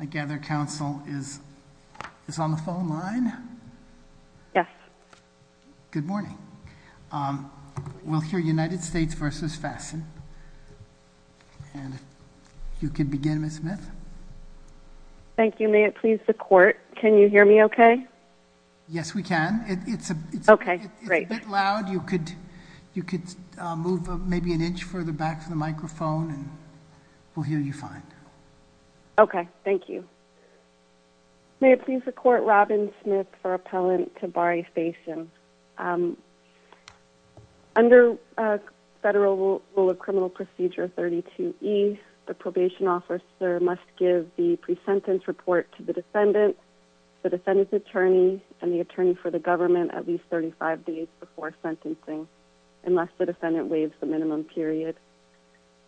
I gather counsel is on the phone line? Yes. Good morning. We'll hear United States v. Fasten. And you can begin, Ms. Smith. Thank you. May it please the court, can you hear me okay? Yes, we can. Okay, great. It's a bit loud. You could move maybe an inch further back from the microphone and we'll hear you fine. Okay, thank you. May it please the court, Robin Smith, for appellant to v. Fasten. Under Federal Rule of Criminal Procedure 32E, the probation officer must give the pre-sentence report to the defendant, the defendant's attorney, and the attorney for the government at least 35 days before sentencing unless the defendant waives the minimum period.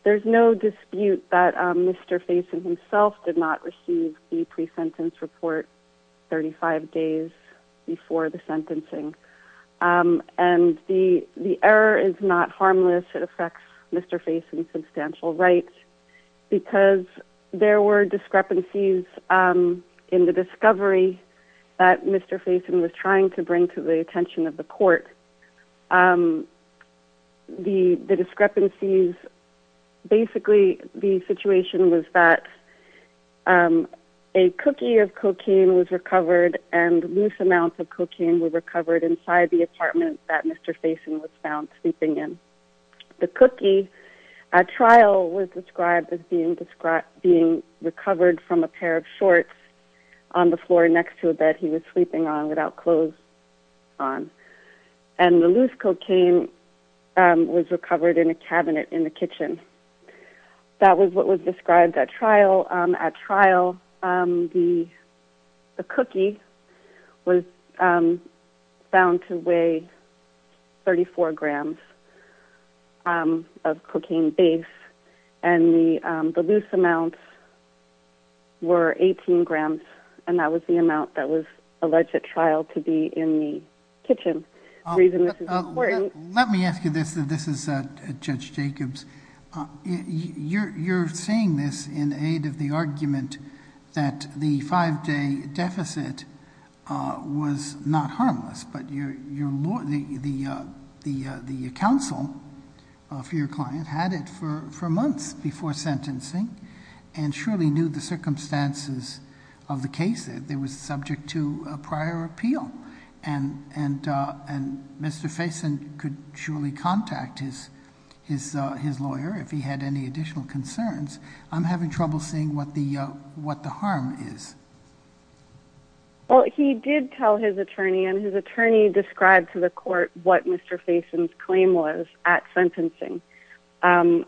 There's no dispute that Mr. Fasten himself did not receive the pre-sentence report 35 days before the sentencing. And the error is not harmless. It affects Mr. Fasten's substantial rights because there were discrepancies in the discovery that Mr. Fasten was trying to bring to the attention of the court. The discrepancies, basically the situation was that a cookie of cocaine was recovered and loose amounts of cocaine were recovered inside the apartment that Mr. Fasten was found sleeping in. The cookie at trial was described as being recovered from a pair of shorts on the floor next to a bed he was sleeping on without clothes on. And the loose cocaine was recovered in a cabinet in the kitchen. That was what was described at trial. At trial, the cookie was found to weigh 34 grams of cocaine base and the loose amounts were 18 grams, and that was the amount that was alleged at trial to be in the kitchen. The reason this is important... Let me ask you this, and this is Judge Jacobs. You're saying this in aid of the argument that the five-day deficit was not harmless, but the counsel for your client had it for months before sentencing and surely knew the circumstances of the case. It was subject to a prior appeal, and Mr. Fasten could surely contact his lawyer if he had any additional concerns. I'm having trouble seeing what the harm is. Well, he did tell his attorney, and his attorney described to the court what Mr. Fasten's claim was at sentencing. I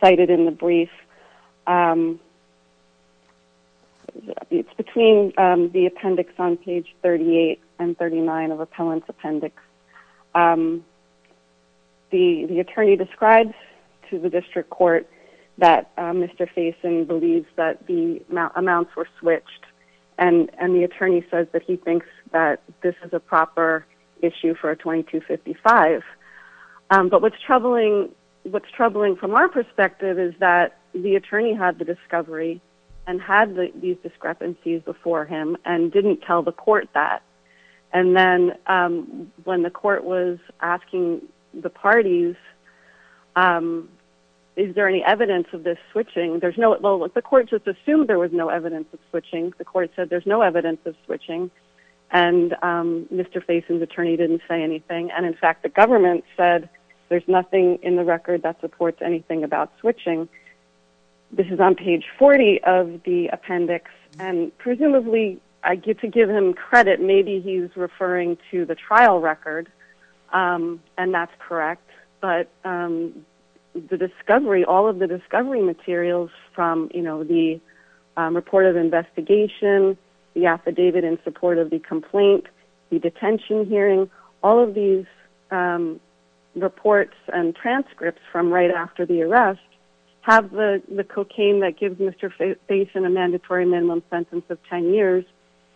cited in the brief... It's between the appendix on page 38 and 39 of Appellant's Appendix. The attorney describes to the district court that Mr. Fasten believes that the amounts were switched, and the attorney says that he thinks that this is a proper issue for a 2255. But what's troubling from our perspective is that the attorney had the discovery and had these discrepancies before him and didn't tell the court that. And then when the court was asking the parties, is there any evidence of this switching? The court just assumed there was no evidence of switching. The court said there's no evidence of switching, and Mr. Fasten's attorney didn't say anything. And in fact, the government said there's nothing in the record that supports anything about switching. This is on page 40 of the appendix, and presumably I get to give him credit. Maybe he's referring to the trial record, and that's correct. But all of the discovery materials from the report of investigation, the affidavit in support of the complaint, the detention hearing, all of these reports and transcripts from right after the arrest have the cocaine that gives Mr. Fasten a mandatory minimum sentence of 10 years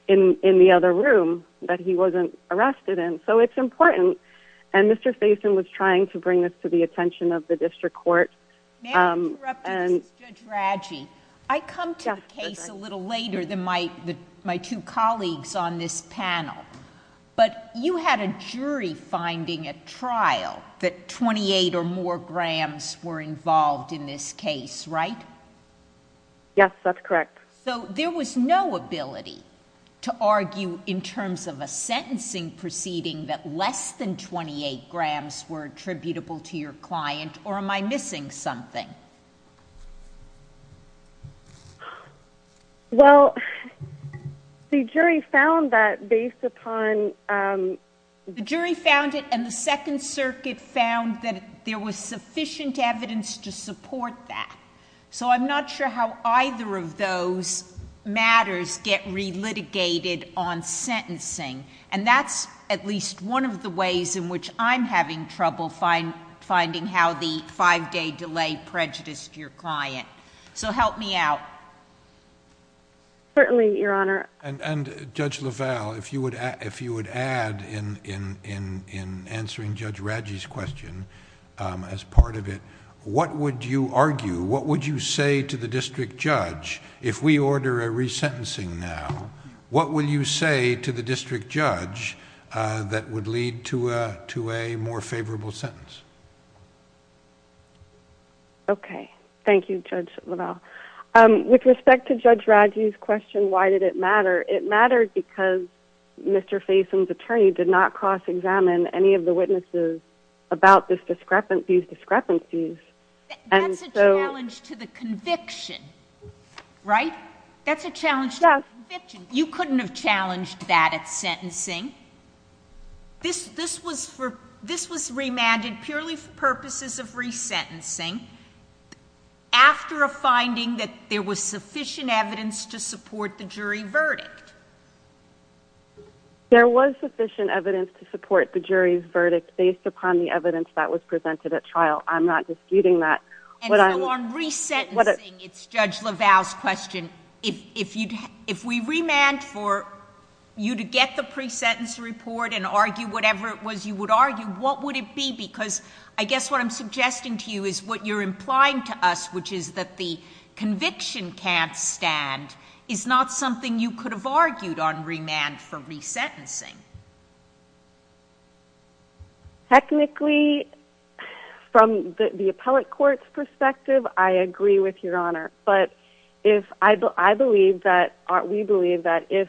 in the other room that he wasn't arrested in. So it's important, and Mr. Fasten was trying to bring this to the attention of the district court. May I interrupt you, Judge Radji? I come to the case a little later than my two colleagues on this panel, but you had a jury finding at trial that 28 or more grams were involved in this case, right? Yes, that's correct. So there was no ability to argue in terms of a sentencing proceeding that less than 28 grams were attributable to your client, or am I missing something? Well, the jury found that based upon... The jury found it, and the Second Circuit found that there was sufficient evidence to support that. So I'm not sure how either of those matters get re-litigated on sentencing, and that's at least one of the ways in which I'm having trouble finding how the five-day delay prejudiced your client. So help me out. Certainly, Your Honor. And Judge LaValle, if you would add in answering Judge Radji's question as part of it, what would you argue? What would you say to the district judge if we order a resentencing now? What would you say to the district judge that would lead to a more favorable sentence? Okay. Thank you, Judge LaValle. With respect to Judge Radji's question, why did it matter? It mattered because Mr. Faison's attorney did not cross-examine any of the witnesses about these discrepancies. That's a challenge to the conviction, right? That's a challenge to the conviction. You couldn't have challenged that at sentencing. This was remanded purely for purposes of resentencing after a finding that there was sufficient evidence to support the jury verdict. There was sufficient evidence to support the jury's verdict. Based upon the evidence that was presented at trial, I'm not disputing that. And so on resentencing, it's Judge LaValle's question. If we remand for you to get the pre-sentence report and argue whatever it was you would argue, what would it be? Because I guess what I'm suggesting to you is what you're implying to us, which is that the conviction can't stand, is not something you could have argued on remand for resentencing. Technically, from the appellate court's perspective, I agree with Your Honor. But we believe that if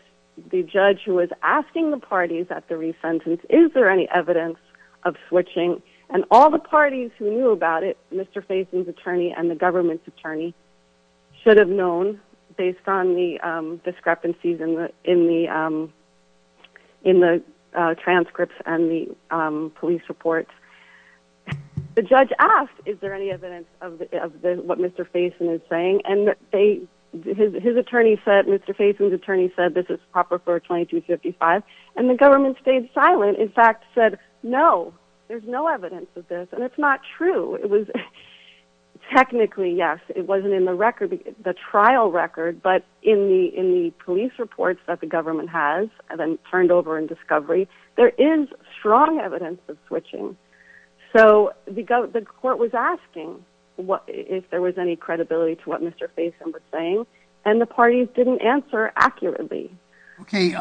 the judge who was asking the parties at the resentence, is there any evidence of switching, and all the parties who knew about it, Mr. Faison's attorney and the government's attorney, should have known based on the discrepancies in the transcripts and the police reports. The judge asked, is there any evidence of what Mr. Faison is saying? And Mr. Faison's attorney said, this is proper for 2255. And the government stayed silent, in fact said, no, there's no evidence of this. And it's not true. It was technically, yes, it wasn't in the record, the trial record, but in the police reports that the government has, and then turned over in discovery, there is strong evidence of switching. So the court was asking if there was any credibility to what Mr. Faison was saying, and the parties didn't answer accurately. Okay,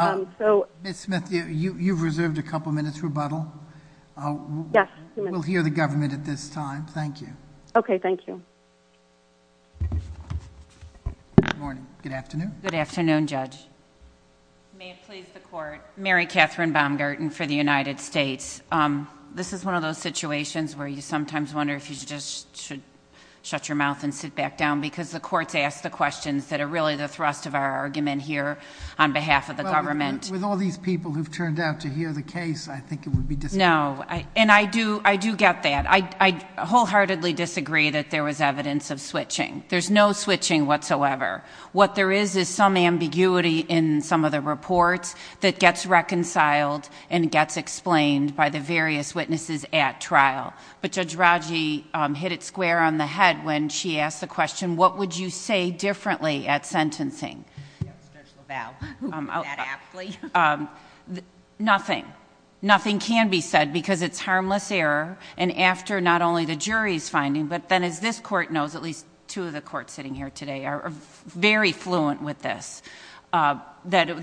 Ms. Smith, you've reserved a couple minutes rebuttal. Yes. We'll hear the government at this time. Thank you. Okay, thank you. Good morning. Good afternoon. Good afternoon, Judge. May it please the court. Mary Catherine Baumgarten for the United States. This is one of those situations where you sometimes wonder if you should just shut your mouth and sit back down, because the court's asked the questions that are really the thrust of our argument here on behalf of the government. With all these people who've turned out to hear the case, I think it would be disagreeable. No. And I do get that. I wholeheartedly disagree that there was evidence of switching. There's no switching whatsoever. What there is is some ambiguity in some of the reports that gets reconciled and gets explained by the various witnesses at trial. But Judge Raggi hit it square on the head when she asked the question, what would you say differently at sentencing? Stretch the valve. That aptly. Nothing. Nothing can be said because it's harmless error, and after not only the jury's finding, but then as this court knows, at least two of the courts sitting here today are very fluent with this, that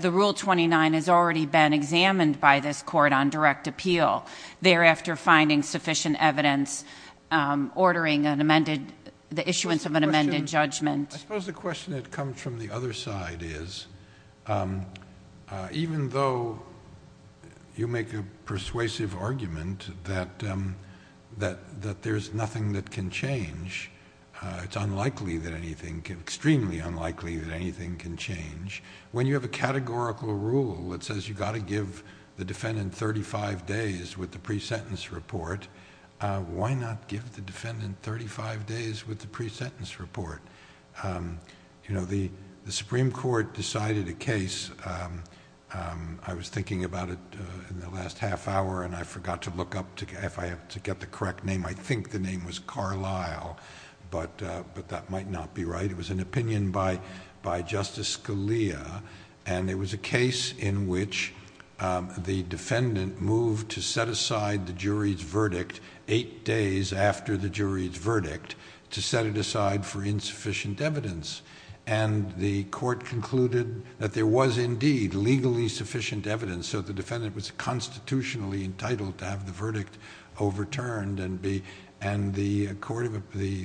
the Rule 29 has already been examined by this court on direct appeal. Thereafter, finding sufficient evidence, ordering an amended, the issuance of an amended judgment. I suppose the question that comes from the other side is, even though you make a persuasive argument that there's nothing that can change, it's unlikely that anything... extremely unlikely that anything can change. When you have a categorical rule that says you've got to give the defendant thirty-five days with the pre-sentence report, why not give the defendant thirty-five days with the pre-sentence report? The Supreme Court decided a case. I was thinking about it in the last half hour, and I forgot to look up if I have to get the correct name. I think the name was Carlisle, but that might not be right. It was an opinion by Justice Scalia, and it was a case in which the defendant moved to set aside the jury's verdict eight days after the jury's verdict to set it aside for insufficient evidence. The court concluded that there was indeed legally sufficient evidence, so the defendant was constitutionally entitled to have the verdict overturned. The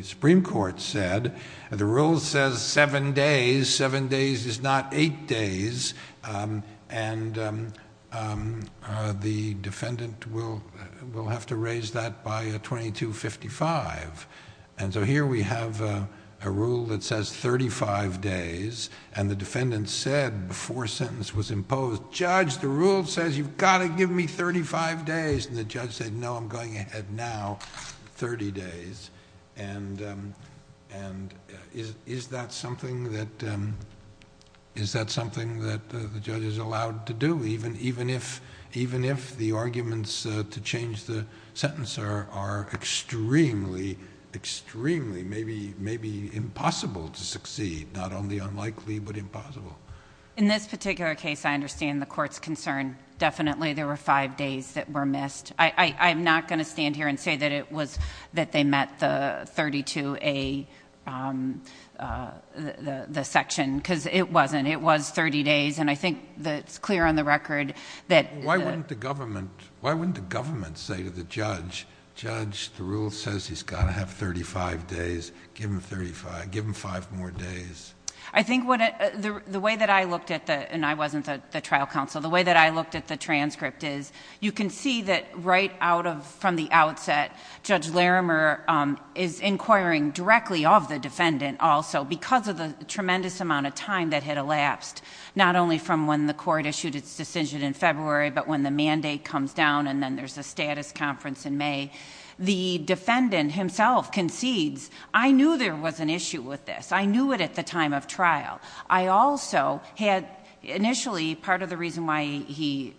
Supreme Court said, the rule says seven days, seven days is not eight days, and the defendant will have to raise that by 2255. Here we have a rule that says thirty-five days, and the defendant said before sentence was imposed, Judge, the rule says you've got to give me thirty-five days, and the judge said, no, I'm going ahead now, thirty days. Is that something that the judge is allowed to do, even if the arguments to change the sentence are extremely, extremely, maybe impossible to succeed, not only unlikely, but impossible? In this particular case, I understand the court's concern. I'm not going to stand here and say that they met the 32A section, because it wasn't. It was thirty days, and I think it's clear on the record that... Why wouldn't the government say to the judge, Judge, the rule says he's got to have thirty-five days. Give him five more days. I think the way that I looked at the, and I wasn't the trial counsel, the way that I looked at the transcript is, you can see that right out of, from the outset, Judge Larimer is inquiring directly of the defendant also, because of the tremendous amount of time that had elapsed, not only from when the court issued its decision in February, but when the mandate comes down, and then there's a status conference in May. The defendant himself concedes, I knew there was an issue with this. I knew it at the time of trial. I also had, initially, part of the reason why he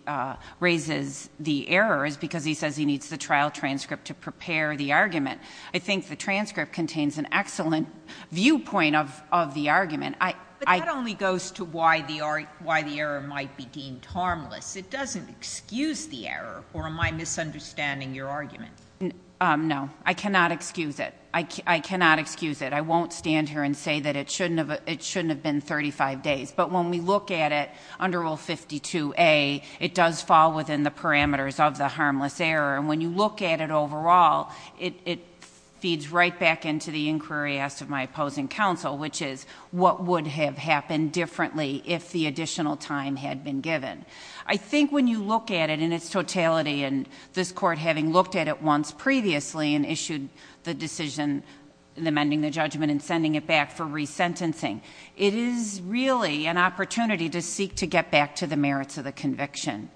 raises the error is because he says he needs the trial transcript to prepare the argument. I think the transcript contains an excellent viewpoint of the argument. I... But that only goes to why the error might be deemed harmless. It doesn't excuse the error, or am I misunderstanding your argument? No. I cannot excuse it. I cannot excuse it. I won't stand here and say that it shouldn't have been 35 days, but when we look at it under Rule 52A, it does fall within the parameters of the harmless error, and when you look at it overall, it feeds right back into the inquiry asked of my opposing counsel, which is, what would have happened differently if the additional time had been given? I think when you look at it in its totality, and this court having looked at it once previously, and issued the decision amending the judgment and sending it back for resentencing, it is really an opportunity to seek to get back to the merits of the conviction,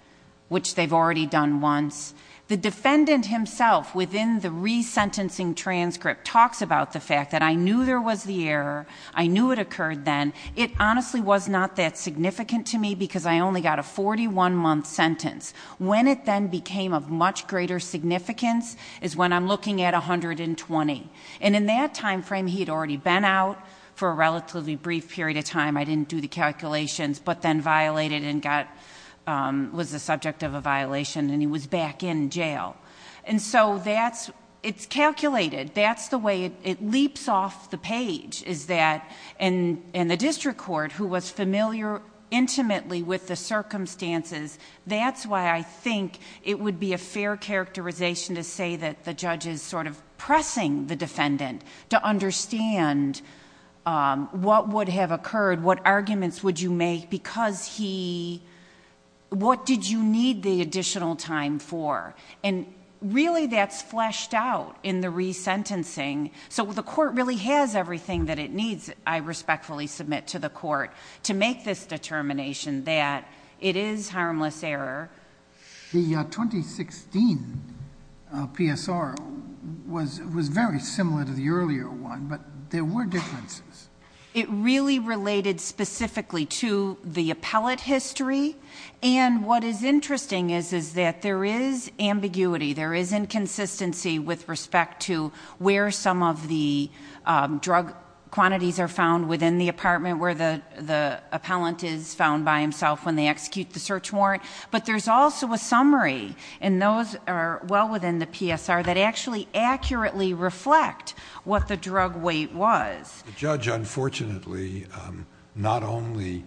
which they've already done once. The defendant himself, within the resentencing transcript, talks about the fact that I knew there was the error, I knew it occurred then. It honestly was not that significant to me because I only got a 41-month sentence. When it then became of much greater significance is when I'm looking at 120. In that time frame, he had already been out for a relatively brief period of time. I didn't do the calculations, but then violated and was the subject of a violation, and he was back in jail. It's calculated. That's the way it leaps off the page, and the district court, who was familiar intimately with the circumstances, that's why I think it would be a fair characterization to say that the judge is pressing the defendant to understand what would have occurred, what arguments would you make because he... what did you need the additional time for? Really, that's fleshed out in the resentencing. The court really has everything that it needs, I respectfully submit to the court, to make this determination that it is harmless error. The 2016 PSR was very similar to the earlier one, but there were differences. It really related specifically to the appellate history, and what is interesting is that there is ambiguity, there is inconsistency with respect to where some of the drug quantities are found within the apartment where the appellant is found by himself when they execute the search warrant, but there's also a summary, and those are well within the PSR, that actually accurately reflect what the drug weight was. The judge, unfortunately, not only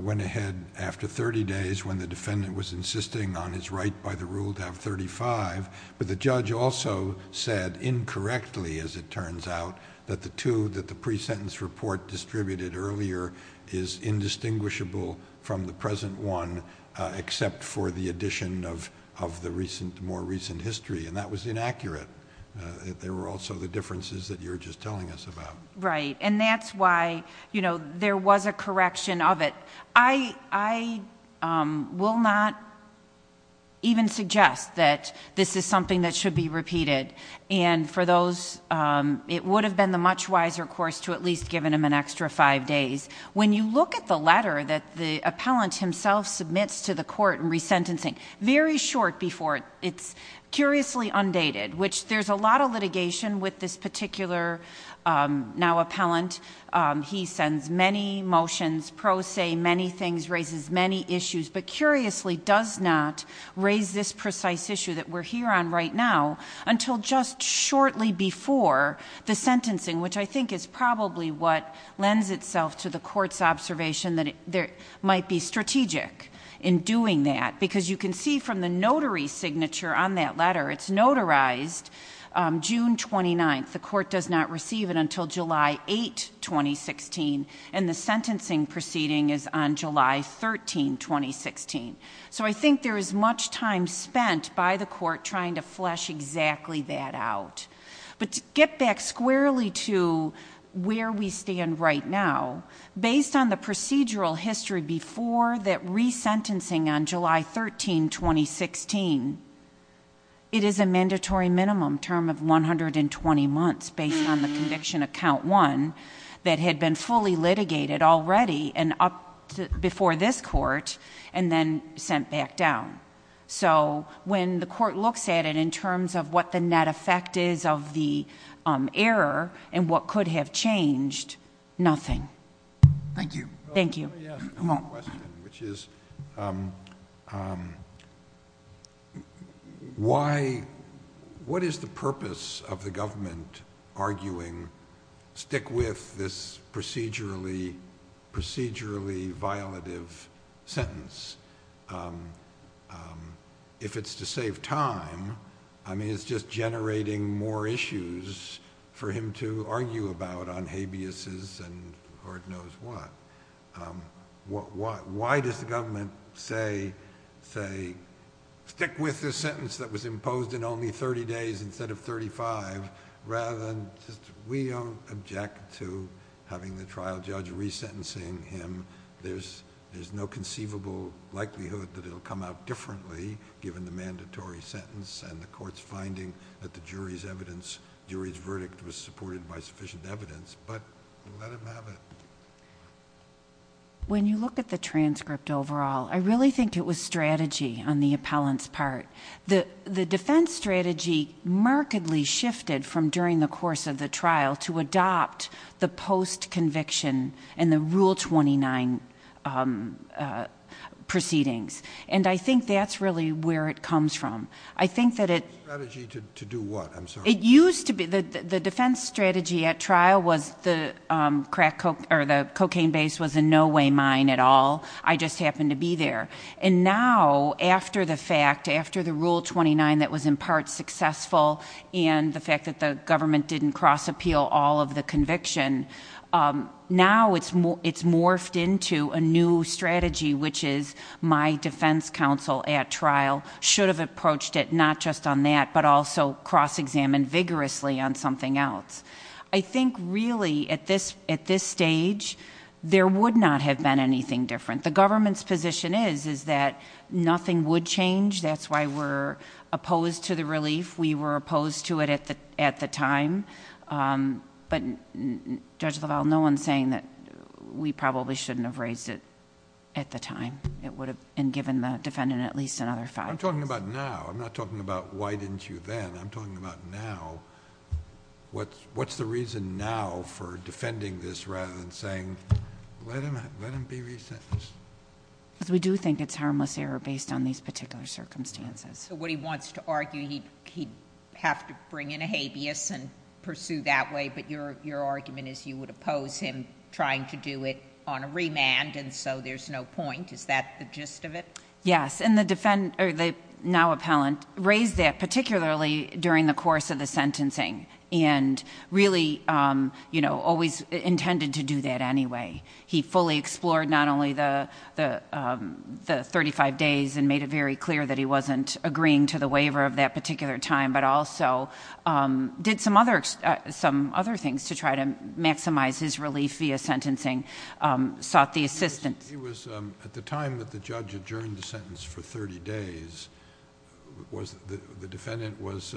went ahead after thirty days when the defendant was insisting on his right by the rule to have thirty-five, but the judge also said incorrectly, as it turns out, that the two that the pre-sentence report distributed earlier is indistinguishable from the present one, except for the addition of the more recent history, and that was inaccurate. There were also the differences that you were just telling us about. Right, and that's why there was a correction of it. I will not even suggest that this is something that should be repeated, and for those, it would have been the much wiser course to at least given him an extra five days. When you look at the letter that the appellant himself submits to the court in resentencing, very short before, it's curiously undated, which there's a lot of litigation with this particular now appellant. He sends many motions, pro se, many things, raises many issues, but curiously does not raise this precise issue that we're here on right now until just shortly before the sentencing, which I think is probably what lends itself to the court's observation that it might be strategic in doing that, because you can see from the notary signature on that letter, it's notarized June 29th. The court does not receive it until July 8, 2016, and the sentencing proceeding is on July 13, 2016. So I think there is much time spent by the court trying to flesh exactly that out. But to get back squarely to where we stand right now, based on the procedural history before that resentencing on July 13, 2016, it is a mandatory minimum term of 120 months based on the conviction of count one that had been fully litigated already before this court and then sent back down. So when the court looks at it in terms of what the net effect is of the error and what could have changed, nothing. Thank you. Thank you. Let me ask a question, which is, what is the purpose of the government arguing, stick with this procedurally violative sentence? If it's to save time, I mean, it's just generating more issues for him to argue about on habeases and Lord knows what. Why does the government say, stick with this sentence that was imposed in only 30 days instead of 35, rather than just, we don't object to having the trial judge resentencing him. There's no conceivable likelihood that it will come out differently given the mandatory sentence and the court's finding that the jury's verdict was supported by sufficient evidence. But let him have it. When you look at the transcript overall, I really think it was strategy on the appellant's part. The defense strategy markedly shifted from during the course of the trial to adopt the post-conviction and the Rule 29 proceedings. I think that's really where it comes from. I think that it... Strategy to do what? I'm sorry. The defense strategy at trial was the cocaine base was in no way mine at all. I just happened to be there. And now, after the fact, after the Rule 29 that was in part successful and the fact that the government didn't cross-appeal all of the conviction, now it's morphed into a new strategy, which is my defense counsel at trial should have approached it not just on that, but also cross-examined vigorously on something else. I think really, at this stage, there would not have been anything different. The government's position is, is that nothing would change. That's why we're opposed to the relief. We were opposed to it at the time. But Judge LaValle, no one's saying that we probably shouldn't have raised it at the time. It would have been given the defendant at least another five years. I'm talking about now. I'm not talking about why didn't you then. I'm talking about now. What's the reason now for defending this rather than saying, let him be resentenced? We do think it's harmless error based on these particular circumstances. What he wants to argue, he'd have to bring in a habeas and pursue that way, but your argument is you would oppose him trying to do it on a remand, and so there's no point. Is that the gist of it? Yes. The now appellant raised that particularly during the course of the sentencing and really always intended to do that anyway. He fully explored not only the thirty-five days and made it very clear that he wasn't agreeing to the waiver of that particular time, but also did some other things to try to maximize his relief via sentencing, sought the assistance... At the time that the judge adjourned the sentence for thirty days, the defendant was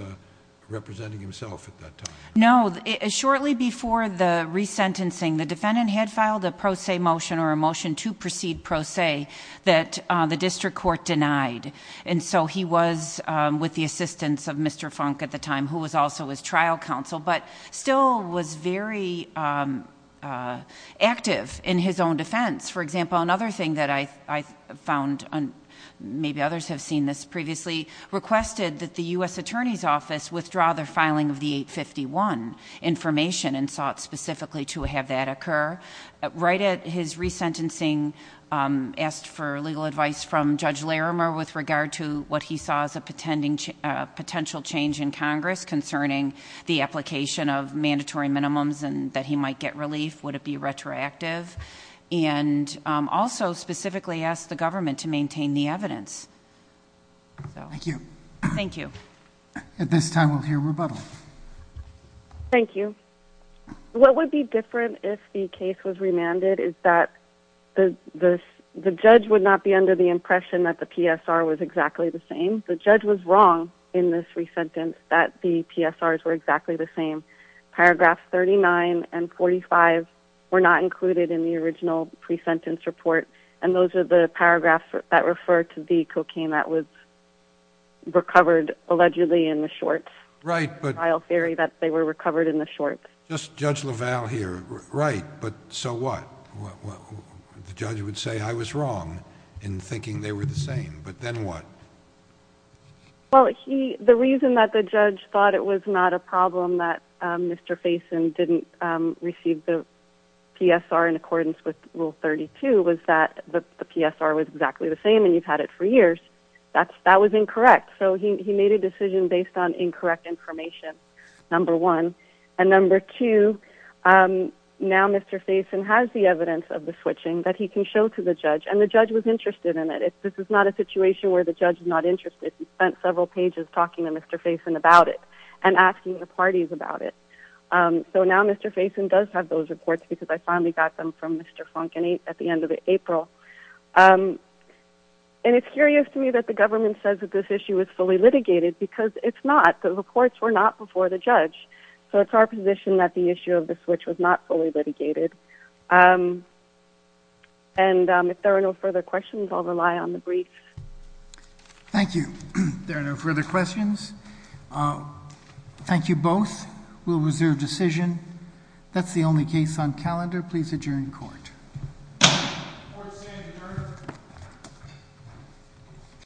representing himself at that time? No. Shortly before the resentencing, the defendant had filed a pro se motion or a motion to proceed pro se that the district court denied. He was with the assistance of Mr. Funk at the time who was also his trial counsel, but still was very active in his own defense. For example, another thing that I found, and maybe others have seen this previously, requested that the U.S. Attorney's Office withdraw their filing of the 851 information and sought specifically to have that occur. Right at his resentencing, asked for legal advice from Judge Larimer with regard to what he saw as a potential change in Congress concerning the application of mandatory minimums and that he might get relief. Would it be retroactive? And also specifically asked the government to maintain the evidence. Thank you. Thank you. At this time, we'll hear rebuttal. Thank you. What would be different if the case was remanded is that the judge would not be under the impression that the PSR was exactly the same. The judge was wrong in this resentence that the PSRs were exactly the same. Paragraph 39 and 45 were not included in the original pre-sentence report, and those are the paragraphs that refer to the cocaine that was recovered allegedly in the shorts. Right. The trial theory that they were recovered in the shorts. Just Judge LaValle here. Right, but so what? The judge would say, I was wrong in thinking they were the same, but then what? Well, the reason that the judge thought it was not a problem that Mr. Faison didn't receive the PSR in accordance with Rule 32 was that the PSR was exactly the same and you've had it for years. That was incorrect. So he made a decision based on incorrect information, number one. And number two, now Mr. Faison has the evidence of the switching that he can show to the judge, and the judge was interested in it. This is not a situation where the judge is not interested. He spent several pages talking to Mr. Faison about it and asking the parties about it. So now Mr. Faison does have those reports because I finally got them from Mr. Funk at the end of April. And it's curious to me that the government says that this issue is fully litigated because it's not. The reports were not before the judge. So it's our position that the issue of the switch was not fully litigated. And if there are no further questions, I'll rely on the briefs. Thank you. If there are no further questions, thank you both. We'll reserve decision. That's the only case on calendar. Please adjourn court. Court is adjourned.